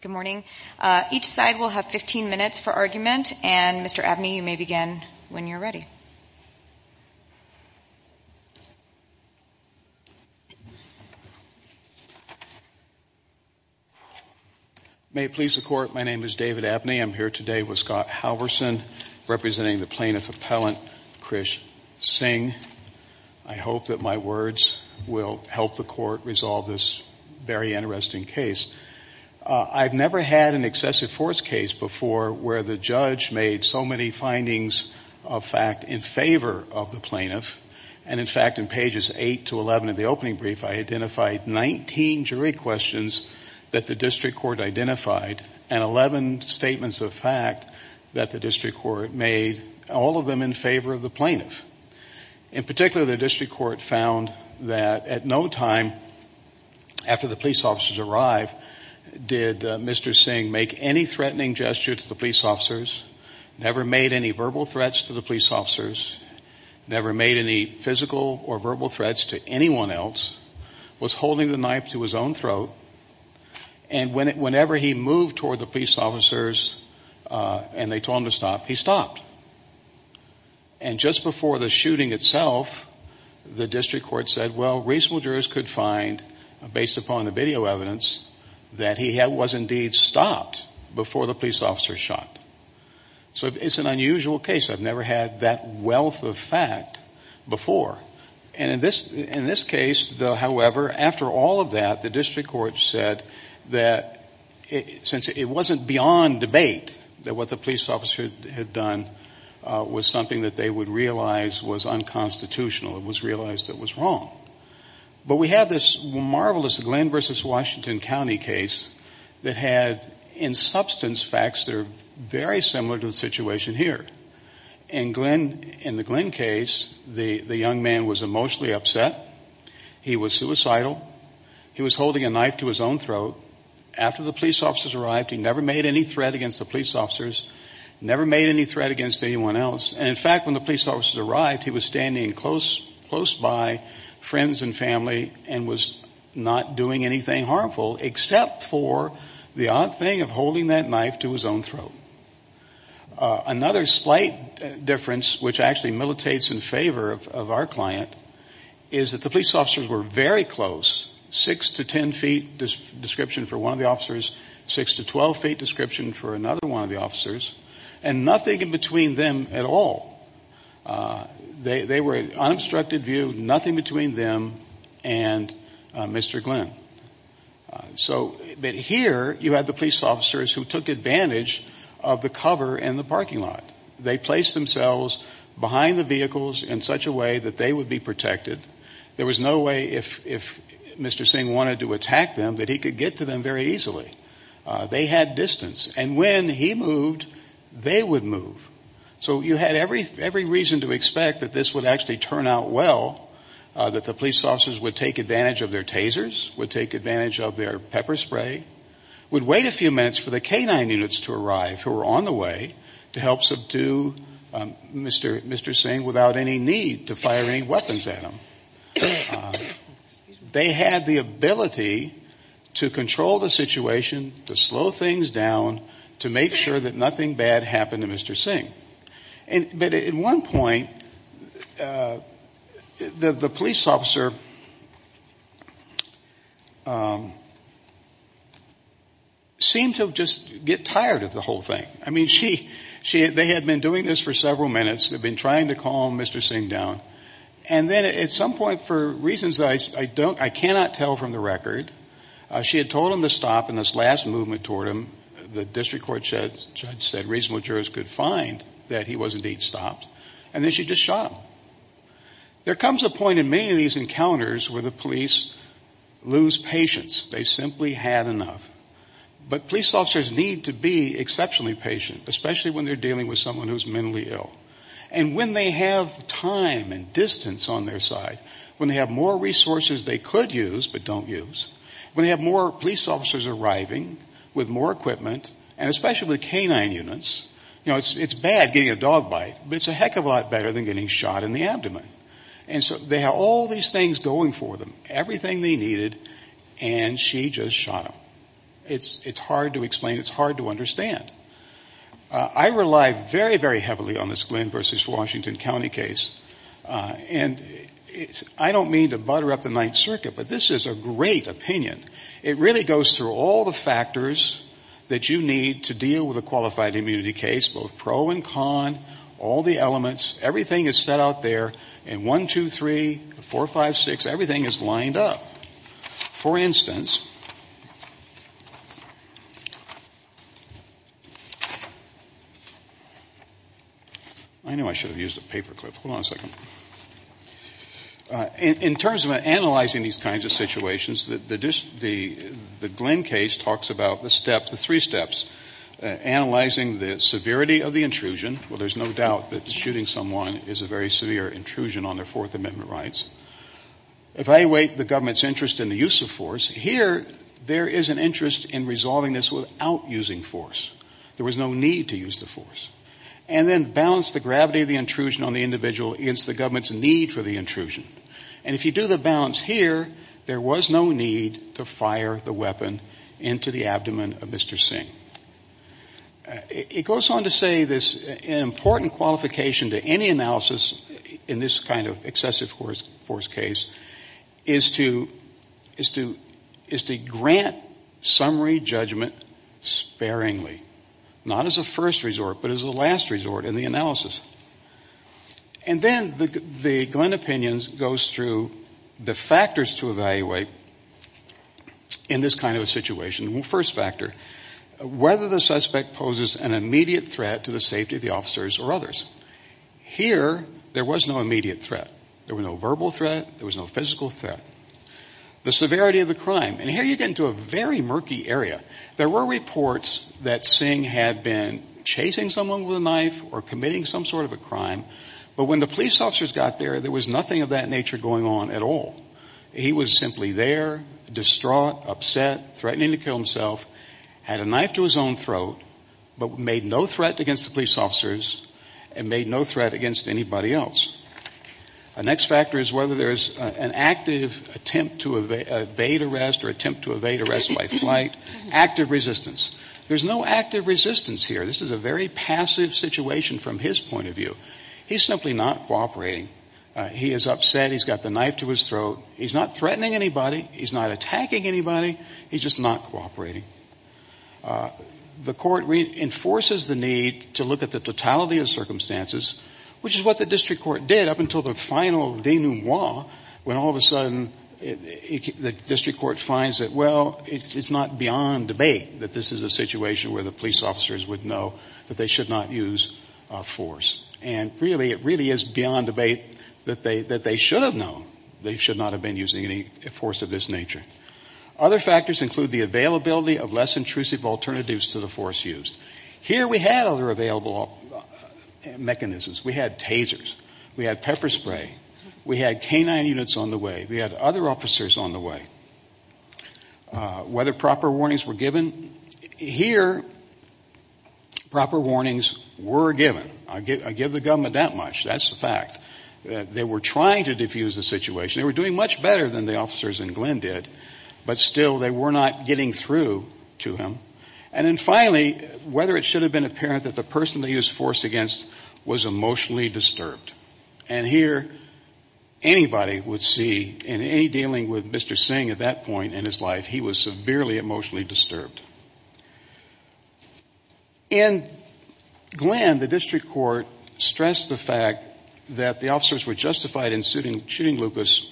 Good morning. Each side will have 15 minutes for argument, and Mr. Abney, you may begin when you're ready. May it please the Court, my name is David Abney. I'm here today with Scott Halverson, representing the Plaintiff Appellant Krish Singh. I hope that my words will help the Court resolve this very interesting case. I've never had an excessive force case before where the judge made so many findings of fact in favor of the plaintiff. And in fact, in pages 8 to 11 of the opening brief, I identified 19 jury questions that the district court identified, and 11 statements of fact that the district court made, all of them in favor of the plaintiff. In particular, the district court found that at no time after the police officers arrived, did Mr. Singh make any threatening gesture to the police officers, never made any verbal threats to the police officers, never made any physical or verbal threats to anyone else, was holding the knife to his own throat, and whenever he moved toward the police officers and they told him to stop, he stopped. And just before the shooting itself, the district court said, well, reasonable jurors could find, based upon the video evidence, that he was indeed stopped before the police officers shot. So it's an unusual case. I've never had that wealth of fact before. And in this case, however, after all of that, the district court said that since it wasn't beyond debate that what the police officer had done was something that they would realize was unconstitutional, it was realized that it was wrong. But we have this marvelous Glenn v. Washington County case that had, in substance, facts that are very similar to the situation here. In the Glenn case, the young man was emotionally upset. He was suicidal. He was holding a knife to his own throat. After the police officers arrived, he never made any threat against the police officers, never made any threat against anyone else. And in fact, when the police officers arrived, he was standing close by friends and family and was not doing anything harmful except for the odd thing of holding that knife to his own throat. Another slight difference, which actually militates in favor of our client, is that the police officers were very close, 6 to 10 feet description for one of the officers, 6 to 12 feet description for another one of the officers, and nothing in between them at all. They were an unobstructed view, nothing between them and Mr. Glenn. But here, you had the police officers who took advantage of the cover in the parking lot. They placed themselves behind the vehicles in such a way that they would be protected. There was no way, if Mr. Singh wanted to attack them, that he could get to them very easily. They had distance. And when he moved, they would move. So you had every reason to expect that this would actually turn out well, that the police officers would take advantage of their tasers, would take advantage of their pepper spray, would wait a few minutes for the canine units to arrive who were on the way to help subdue Mr. Singh without any need to fire any weapons at him. They had the ability to control the situation, to slow things down, to make sure that nothing bad happened to Mr. Singh. But at one point, the police officer seemed to just get tired of the whole thing. I mean, they had been doing this for several minutes. They had been trying to calm Mr. Singh down. And then at some point, for reasons I cannot tell from the record, she had told him to stop in this last movement toward him. The district court judge said reasonable jurors could find that he was indeed stopped. And then she just shot him. There comes a point in many of these encounters where the police lose patience. They simply had enough. But police officers need to be exceptionally patient, especially when they're dealing with someone who's mentally ill. And when they have time and distance on their side, when they have more resources they could use but don't use, when they have more police officers arriving with more equipment, and especially with canine units, you know, it's bad getting a dog bite, but it's a heck of a lot better than getting shot in the abdomen. And so they have all these things going for them, everything they needed, and she just shot him. It's hard to explain. It's hard to understand. I rely very, very heavily on this Glynn versus Washington County case. And I don't mean to butter up the Ninth Circuit, but this is a great opinion. It really goes through all the factors that you need to deal with a qualified immunity case, both pro and con, all the elements. Everything is set out there in 1, 2, 3, 4, 5, 6. Everything is lined up. For instance, I know I should have used a paper clip. Hold on a second. In terms of analyzing these kinds of situations, the Glynn case talks about the steps, the three steps. Analyzing the severity of the intrusion. Well, there's no doubt that shooting someone is a very severe intrusion on their Fourth Amendment rights. Evaluate the government's interest in the use of force. Here, there is an interest in resolving this without using force. There was no need to use the force. And then balance the gravity of the intrusion on the individual against the government's need for the intrusion. And if you do the balance here, there was no need to fire the weapon into the abdomen of Mr. Singh. It goes on to say this important qualification to any analysis in this kind of excessive force case is to grant summary judgment sparingly. Not as a first resort, but as a last resort in the analysis. And then the Glynn opinion goes through the factors to evaluate in this kind of a situation. First factor, whether the suspect poses an immediate threat to the safety of the officers or others. Here, there was no immediate threat. There was no verbal threat. There was no physical threat. The severity of the crime. And here you get into a very murky area. There were reports that Singh had been chasing someone with a knife or committing some sort of a crime. But when the police officers got there, there was nothing of that nature going on at all. He was simply there, distraught, upset, threatening to kill himself, had a knife to his own throat, but made no threat against the police officers and made no threat against anybody else. The next factor is whether there's an active attempt to evade arrest or attempt to evade arrest by flight. Active resistance. There's no active resistance here. This is a very passive situation from his point of view. He's simply not cooperating. He is upset. He's got the knife to his throat. He's not threatening anybody. He's not attacking anybody. He's just not cooperating. The court reinforces the need to look at the totality of circumstances, which is what the district court did up until the final denouement, when all of a sudden the district court finds that, well, it's not beyond debate that this is a situation where the police officers would know that they should not use force. And really, it really is beyond debate that they should have known they should not have been using any force of this nature. Other factors include the availability of less intrusive alternatives to the force used. Here we had other available mechanisms. We had tasers. We had pepper spray. We had canine units on the way. We had other officers on the way. Whether proper warnings were given. Here, proper warnings were given. I give the government that much. That's a fact. They were trying to defuse the situation. They were doing much better than the officers in Glenn did, but still they were not getting through to him. And then finally, whether it should have been apparent that the person they used force against was emotionally disturbed. And here, anybody would see, in any dealing with Mr. Singh at that point in his life, he was severely emotionally disturbed. In Glenn, the district court stressed the fact that the officers were justified in shooting Lucas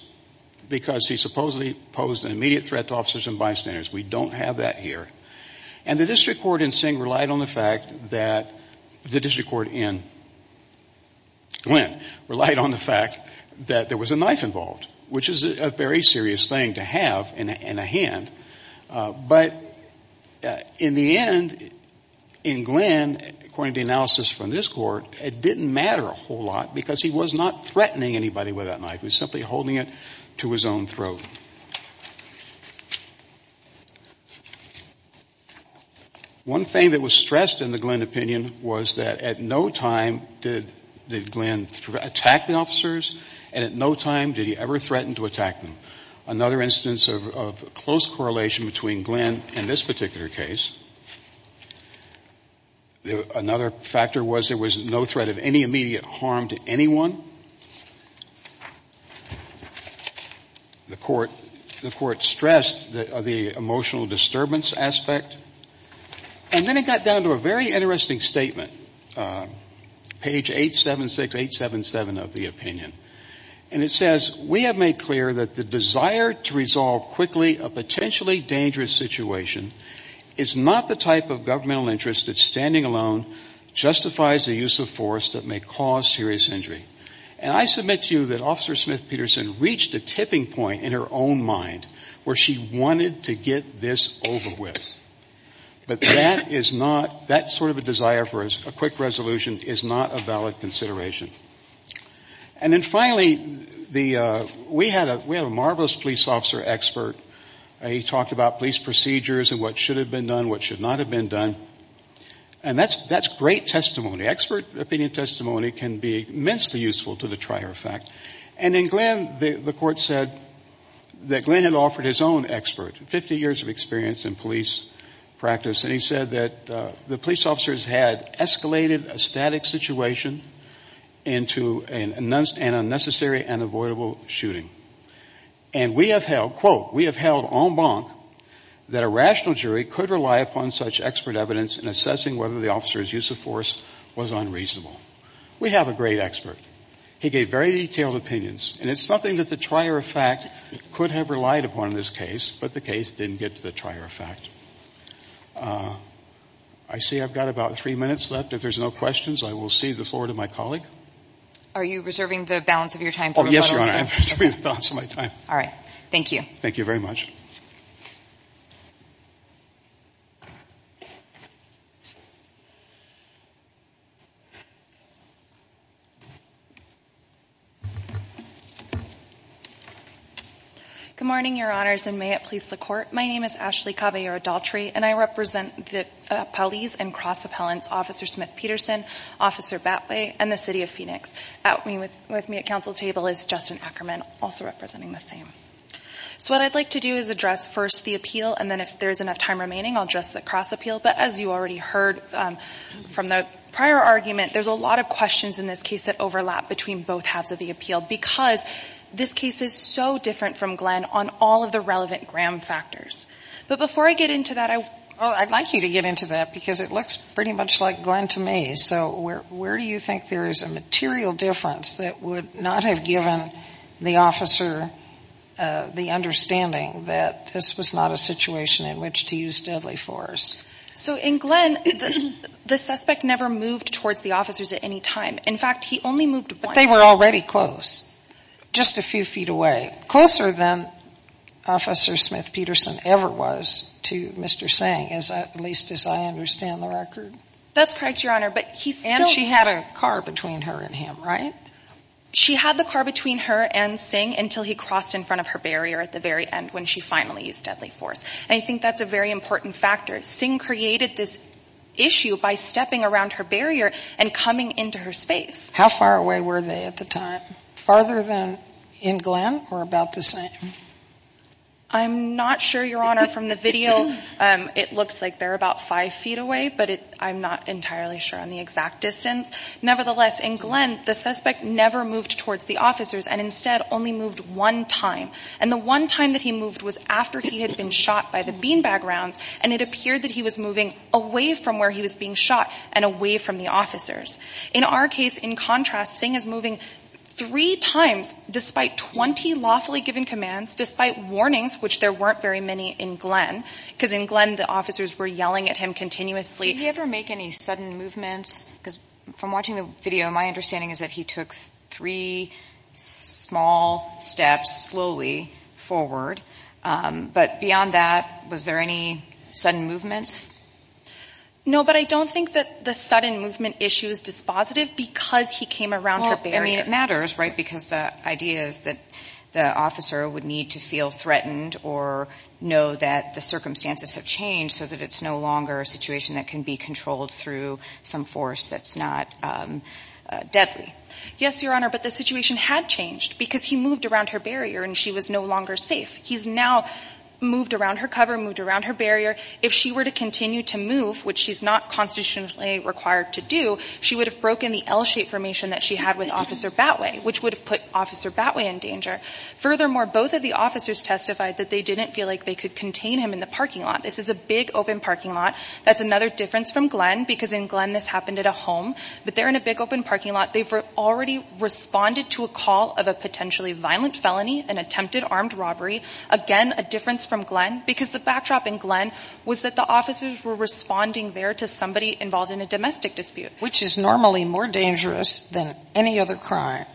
because he supposedly posed an immediate threat to officers and bystanders. We don't have that here. And the district court in Singh relied on the fact that the district court in Glenn relied on the fact that there was a knife involved, which is a very serious thing to have in a hand. But in the end, in Glenn, according to the analysis from this court, it didn't matter a whole lot because he was not threatening anybody with that knife. He was simply holding it to his own throat. One thing that was stressed in the Glenn opinion was that at no time did Glenn attack the officers and at no time did he ever threaten to attack them. Another instance of close correlation between Glenn and this particular case, another factor was there was no threat of any immediate harm to anyone. The court stressed the emotional disturbance aspect. And then it got down to a very interesting statement, page 876, 877 of the opinion. And it says, we have made clear that the desire to resolve quickly a potentially dangerous situation is not the type of governmental interest that standing alone justifies the use of force that may cause serious injury. And I submit to you that Officer Smith-Peterson reached a tipping point in her own mind where she wanted to get this over with. But that is not, that sort of a desire for a quick resolution is not a valid consideration. And then finally, we had a marvelous police officer expert. He talked about police procedures and what should have been done, what should not have been done. And that's great testimony. Expert opinion testimony can be immensely useful to the trier effect. And in Glenn, the court said that Glenn had offered his own expert, 50 years of experience in police practice. And he said that the police officers had escalated a static situation into an unnecessary and avoidable shooting. And we have held, quote, we have held en banc that a rational jury could rely upon such expert evidence in assessing whether the officer's use of force was unreasonable. We have a great expert. He gave very detailed opinions. And it's something that the trier effect could have relied upon in this case, but the case didn't get to the trier effect. I see I've got about three minutes left. If there's no questions, I will cede the floor to my colleague. Are you reserving the balance of your time? Yes, Your Honor. I'm reserving the balance of my time. All right. Thank you. Thank you very much. Thank you. Good morning, Your Honors, and may it please the court. My name is Ashley Caballero-Daltrey, and I represent the police and cross-appellants Officer Smith-Peterson, Officer Batway, and the City of Phoenix. With me at council table is Justin Ackerman, also representing the same. So what I'd like to do is address first the appeal, and then if there's enough time remaining, I'll address the cross-appeal. But as you already heard from the prior argument, there's a lot of questions in this case that overlap between both halves of the appeal because this case is so different from Glenn on all of the relevant gram factors. But before I get into that, I would like you to get into that because it looks pretty much like Glenn to me. And so where do you think there is a material difference that would not have given the officer the understanding that this was not a situation in which to use deadly force? So in Glenn, the suspect never moved towards the officers at any time. In fact, he only moved once. But they were already close, just a few feet away, closer than Officer Smith-Peterson ever was to Mr. Singh, at least as I understand the record. That's correct, Your Honor. And she had a car between her and him, right? She had the car between her and Singh until he crossed in front of her barrier at the very end when she finally used deadly force. And I think that's a very important factor. Singh created this issue by stepping around her barrier and coming into her space. How far away were they at the time? Farther than in Glenn or about the same? I'm not sure, Your Honor, from the video. It looks like they're about five feet away, but I'm not entirely sure on the exact distance. Nevertheless, in Glenn, the suspect never moved towards the officers and instead only moved one time. And the one time that he moved was after he had been shot by the beanbag rounds, and it appeared that he was moving away from where he was being shot and away from the officers. In our case, in contrast, Singh is moving three times despite 20 lawfully given commands, despite warnings, which there weren't very many in Glenn. Because in Glenn, the officers were yelling at him continuously. Did he ever make any sudden movements? Because from watching the video, my understanding is that he took three small steps slowly forward. But beyond that, was there any sudden movements? No, but I don't think that the sudden movement issue is dispositive because he came around her barrier. Well, I mean, it matters, right, because the idea is that the officer would need to feel threatened or know that the circumstances have changed so that it's no longer a situation that can be controlled through some force that's not deadly. Yes, Your Honor, but the situation had changed because he moved around her barrier and she was no longer safe. He's now moved around her cover, moved around her barrier. If she were to continue to move, which she's not constitutionally required to do, she would have broken the L-shaped formation that she had with Officer Batway, which would have put Officer Batway in danger. Furthermore, both of the officers testified that they didn't feel like they could contain him in the parking lot. This is a big open parking lot. That's another difference from Glenn because in Glenn, this happened at a home, but they're in a big open parking lot. They've already responded to a call of a potentially violent felony, an attempted armed robbery. Again, a difference from Glenn because the backdrop in Glenn was that the officers were responding there to somebody involved in a domestic dispute. Which is normally more dangerous than any other crime.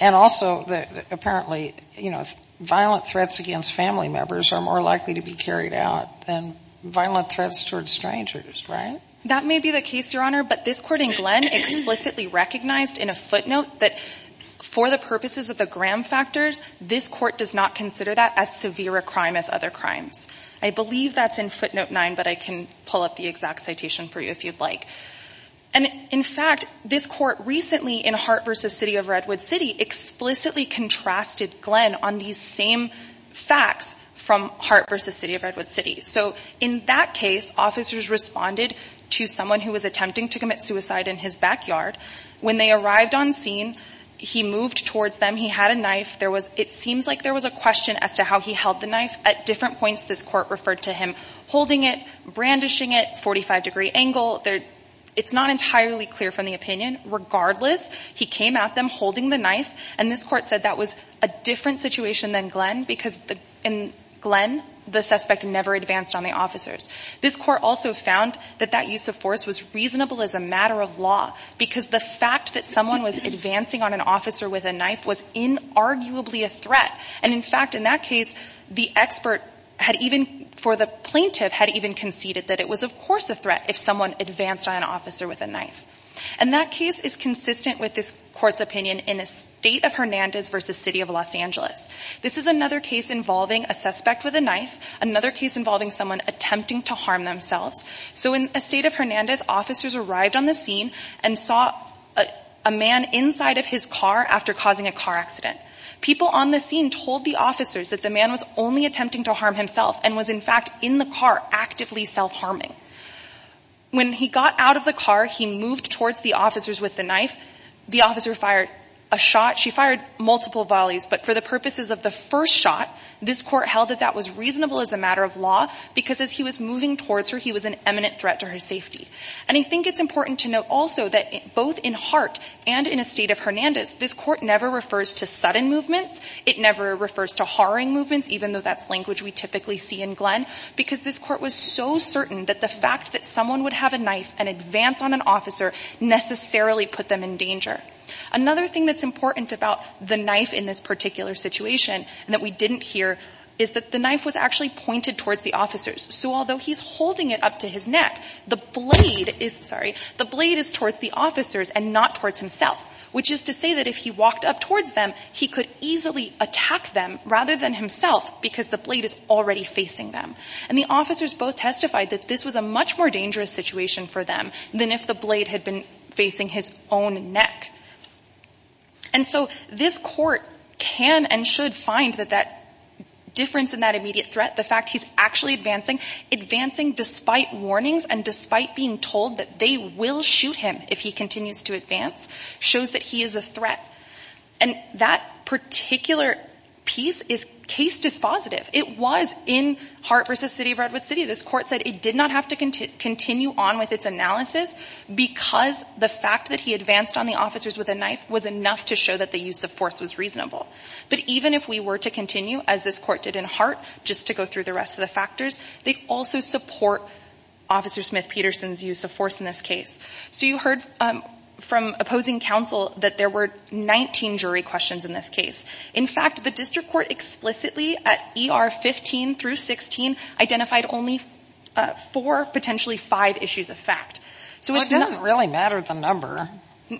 And also, apparently, you know, violent threats against family members are more likely to be carried out than violent threats towards strangers, right? That may be the case, Your Honor, but this court in Glenn explicitly recognized in a footnote that for the purposes of the Graham factors, this court does not consider that as severe a crime as other crimes. I believe that's in footnote 9, but I can pull up the exact citation for you if you'd like. And in fact, this court recently in Hart v. City of Redwood City explicitly contrasted Glenn on these same facts from Hart v. City of Redwood City. So in that case, officers responded to someone who was attempting to commit suicide in his backyard. When they arrived on scene, he moved towards them. He had a knife. It seems like there was a question as to how he held the knife. At different points, this court referred to him holding it, brandishing it, 45-degree angle. It's not entirely clear from the opinion. Regardless, he came at them holding the knife. And this court said that was a different situation than Glenn because in Glenn, the suspect never advanced on the officers. This court also found that that use of force was reasonable as a matter of law because the fact that someone was advancing on an officer with a knife was inarguably a threat. And in fact, in that case, the expert had even, for the plaintiff, had even conceded that it was, of course, a threat if someone advanced on an officer with a knife. And that case is consistent with this court's opinion in Estate of Hernandez v. City of Los Angeles. This is another case involving a suspect with a knife, another case involving someone attempting to harm themselves. So in Estate of Hernandez, officers arrived on the scene and saw a man inside of his car after causing a car accident. People on the scene told the officers that the man was only attempting to harm himself and was, in fact, in the car actively self-harming. When he got out of the car, he moved towards the officers with the knife. The officer fired a shot. She fired multiple volleys. But for the purposes of the first shot, this court held that that was reasonable as a matter of law because as he was moving towards her, he was an eminent threat to her safety. And I think it's important to note also that both in Hart and in Estate of Hernandez, this court never refers to sudden movements. It never refers to harring movements, even though that's language we typically see in Glenn, because this court was so certain that the fact that someone would have a knife and advance on an officer necessarily put them in danger. Another thing that's important about the knife in this particular situation and that we didn't hear is that the knife was actually pointed towards the officers. So although he's holding it up to his neck, the blade is towards the officers and not towards himself, which is to say that if he walked up towards them, he could easily attack them rather than himself because the blade is already facing them. And the officers both testified that this was a much more dangerous situation for them than if the blade had been facing his own neck. And so this court can and should find that that difference in that immediate threat, the fact he's actually advancing, advancing despite warnings and despite being told that they will shoot him if he continues to advance, shows that he is a threat. And that particular piece is case dispositive. It was in Hart v. City of Redwood City. This court said it did not have to continue on with its analysis because the fact that he advanced on the officers with a knife was enough to show that the use of force was reasonable. But even if we were to continue, as this court did in Hart, just to go through the rest of the factors, they also support Officer Smith-Peterson's use of force in this case. So you heard from opposing counsel that there were 19 jury questions in this case. In fact, the district court explicitly at ER 15 through 16 identified only four, potentially five issues of fact. So it doesn't really matter the number,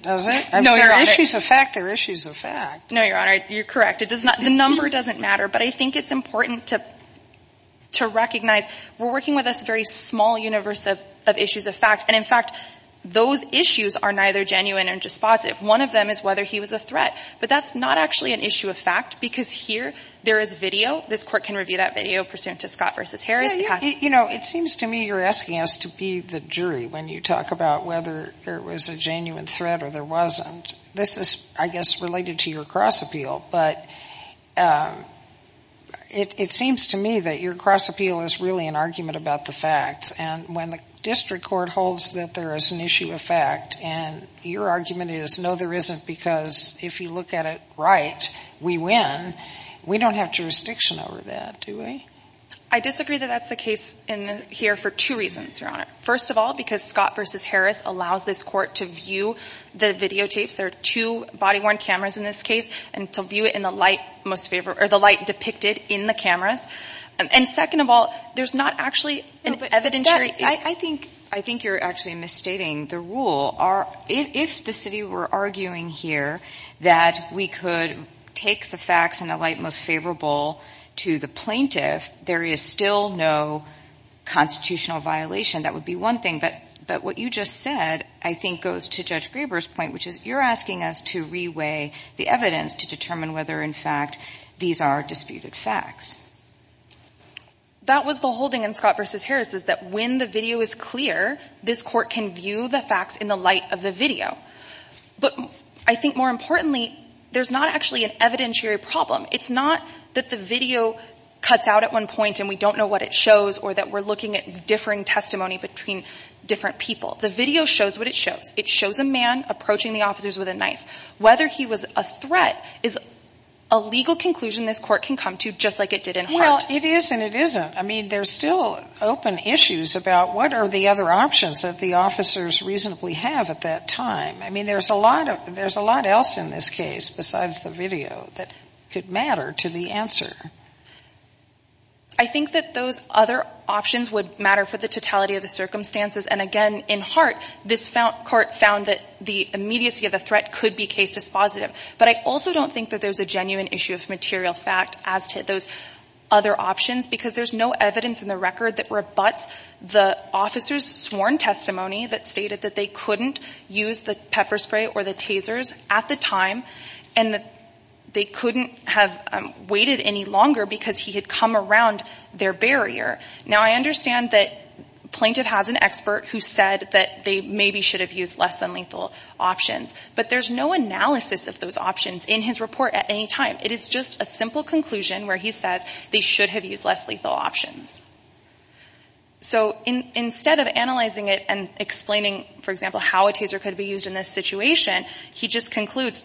does it? No, Your Honor. If they're issues of fact, they're issues of fact. No, Your Honor. You're correct. The number doesn't matter. But I think it's important to recognize we're working with this very small universe of issues of fact. And, in fact, those issues are neither genuine or dispositive. One of them is whether he was a threat. But that's not actually an issue of fact because here there is video. This court can review that video pursuant to Scott v. Harris. You know, it seems to me you're asking us to be the jury when you talk about whether there was a genuine threat or there wasn't. This is, I guess, related to your cross appeal. But it seems to me that your cross appeal is really an argument about the facts. And when the district court holds that there is an issue of fact and your argument is, no, there isn't because if you look at it right, we win, we don't have jurisdiction over that, do we? I disagree that that's the case here for two reasons, Your Honor. First of all, because Scott v. Harris allows this court to view the videotapes. There are two body-worn cameras in this case and to view it in the light most favored or the light depicted in the cameras. And second of all, there's not actually an evidentiary. I think you're actually misstating the rule. If the city were arguing here that we could take the facts in the light most favorable to the plaintiff, there is still no constitutional violation. That would be one thing. But what you just said, I think, goes to Judge Graber's point, which is you're asking us to reweigh the evidence to determine whether, in fact, these are disputed facts. That was the holding in Scott v. Harris is that when the video is clear, this court can view the facts in the light of the video. But I think more importantly, there's not actually an evidentiary problem. It's not that the video cuts out at one point and we don't know what it shows or that we're looking at differing testimony between different people. The video shows what it shows. It shows a man approaching the officers with a knife. Whether he was a threat is a legal conclusion this court can come to, just like it did in Hart. You know, it is and it isn't. I mean, there's still open issues about what are the other options that the officers reasonably have at that time. I mean, there's a lot else in this case besides the video that could matter to the answer. I think that those other options would matter for the totality of the circumstances. And, again, in Hart, this court found that the immediacy of the threat could be case dispositive. But I also don't think that there's a genuine issue of material fact as to those other options, because there's no evidence in the record that rebuts the officers' sworn testimony that stated that they couldn't use the pepper spray or the tasers at the time and that they couldn't have waited any longer because he had come around their barrier. Now, I understand that a plaintiff has an expert who said that they maybe should have used less than lethal options, but there's no analysis of those options in his report at any time. It is just a simple conclusion where he says they should have used less lethal options. So instead of analyzing it and explaining, for example, how a taser could be used in this situation, he just concludes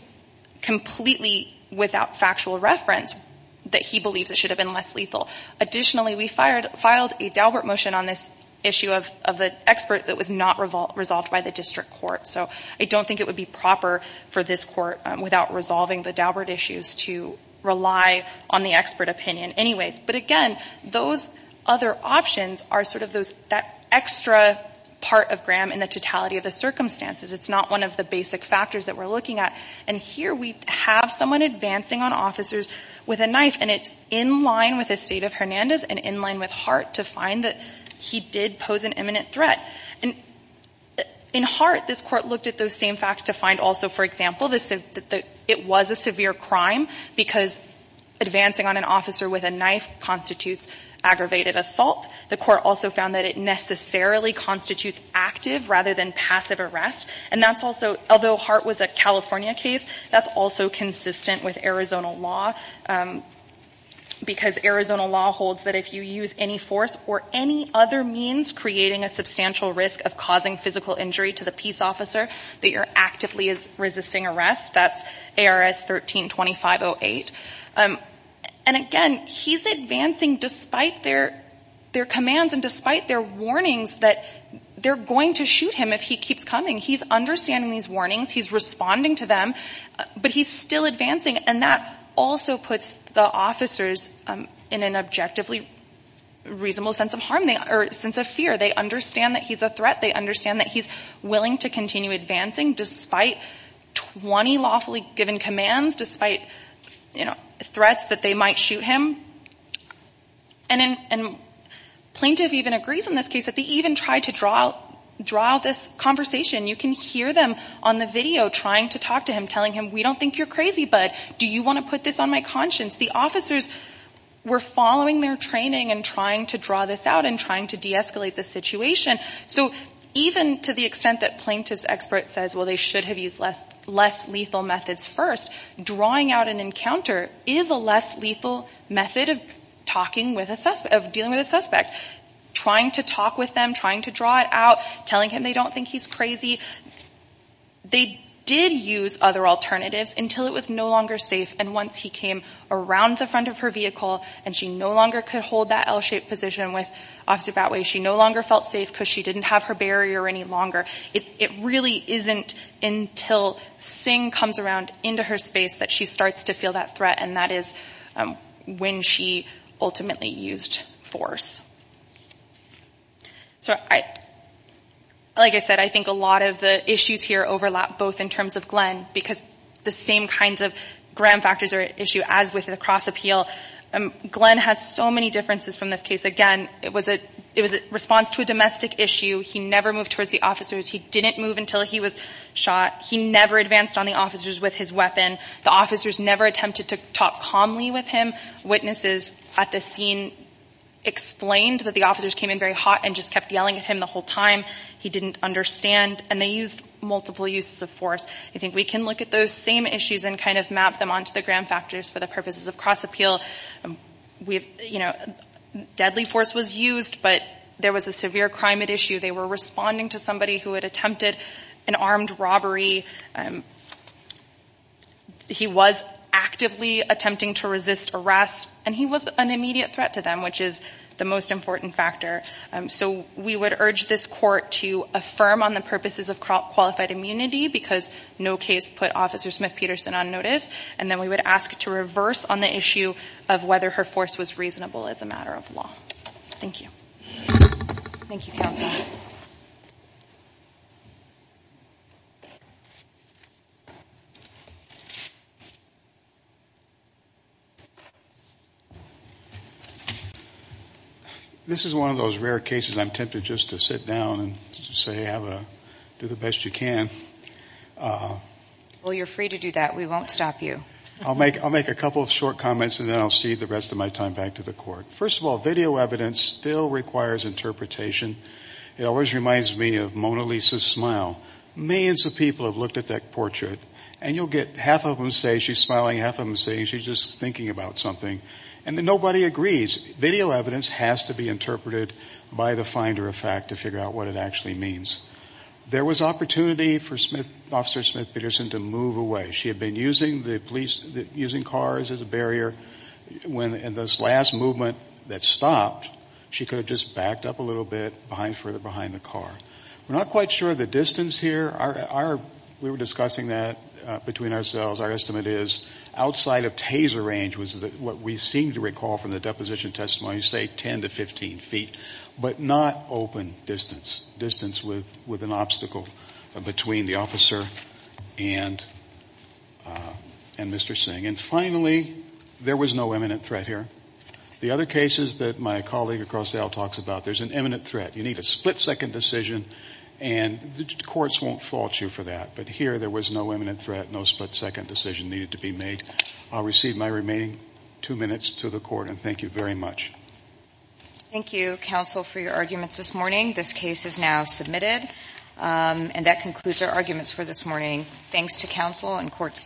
completely without factual reference that he believes it should have been less lethal. Additionally, we filed a Daubert motion on this issue of the expert that was not resolved by the district court. So I don't think it would be proper for this court, without resolving the Daubert issues, to rely on the expert opinion anyways. But again, those other options are sort of that extra part of Graham in the totality of the circumstances. It's not one of the basic factors that we're looking at. And here we have someone advancing on officers with a knife, and it's in line with the state of Hernandez and in line with Hart to find that he did pose an imminent threat. And in Hart, this Court looked at those same facts to find also, for example, that it was a severe crime because advancing on an officer with a knife constitutes aggravated assault. The Court also found that it necessarily constitutes active rather than passive arrest. And that's also, although Hart was a California case, that's also consistent with Arizona law, because Arizona law holds that if you use any force or any other means creating a substantial risk of causing physical injury to the peace officer, that you're actively resisting arrest. That's ARS 13-2508. And again, he's advancing despite their commands and despite their warnings that they're going to shoot him if he keeps coming. He's understanding these warnings. He's responding to them. But he's still advancing, and that also puts the officers in an objectively reasonable sense of harm. Or sense of fear. They understand that he's a threat. They understand that he's willing to continue advancing despite 20 lawfully given commands, despite threats that they might shoot him. And Plaintiff even agrees in this case that they even tried to draw out this conversation. You can hear them on the video trying to talk to him, telling him, we don't think you're crazy, but do you want to put this on my conscience? The officers were following their training and trying to draw this out and trying to deescalate the situation. So even to the extent that Plaintiff's expert says, well, they should have used less lethal methods first, drawing out an encounter is a less lethal method of dealing with a suspect. Trying to talk with them, trying to draw it out, telling him they don't think he's crazy. They did use other alternatives until it was no longer safe. And once he came around the front of her vehicle and she no longer could hold that L-shaped position with Officer Batway, she no longer felt safe because she didn't have her barrier any longer. It really isn't until Singh comes around into her space that she starts to feel that threat, and that is when she ultimately used force. So, like I said, I think a lot of the issues here overlap both in terms of Glenn because the same kinds of gram factors are at issue as with the cross-appeal. Glenn has so many differences from this case. Again, it was a response to a domestic issue. He never moved towards the officers. He didn't move until he was shot. He never advanced on the officers with his weapon. The officers never attempted to talk calmly with him. Witnesses at this scene explained that the officers came in very hot and just kept yelling at him the whole time. He didn't understand, and they used multiple uses of force. I think we can look at those same issues and kind of map them onto the gram factors for the purposes of cross-appeal. You know, deadly force was used, but there was a severe crime at issue. They were responding to somebody who had attempted an armed robbery. He was actively attempting to resist arrest, and he was an immediate threat to them, which is the most important factor. So we would urge this court to affirm on the purposes of qualified immunity because no case put Officer Smith-Peterson on notice, and then we would ask to reverse on the issue of whether her force was reasonable as a matter of law. Thank you. Thank you, Counsel. This is one of those rare cases I'm tempted just to sit down and say, do the best you can. Well, you're free to do that. We won't stop you. I'll make a couple of short comments, and then I'll cede the rest of my time back to the court. First of all, video evidence still requires interpretation. It always reminds me of Mona Lisa's smile. Millions of people have looked at that portrait, and you'll get half of them say she's smiling, half of them say she's just thinking about something, and nobody agrees. Video evidence has to be interpreted by the finder of fact to figure out what it actually means. There was opportunity for Officer Smith-Peterson to move away. She had been using cars as a barrier. In this last movement that stopped, she could have just backed up a little bit further behind the car. We're not quite sure of the distance here. We were discussing that between ourselves. Our estimate is outside of taser range was what we seem to recall from the deposition testimony, say 10 to 15 feet, but not open distance, distance with an obstacle between the officer and Mr. Singh. And finally, there was no imminent threat here. The other cases that my colleague across the aisle talks about, there's an imminent threat. You need a split-second decision, and the courts won't fault you for that, but here there was no imminent threat, no split-second decision needed to be made. I'll receive my remaining two minutes to the court, and thank you very much. Thank you, counsel, for your arguments this morning. This case is now submitted, and that concludes our arguments for this morning. Thanks to counsel and court staff.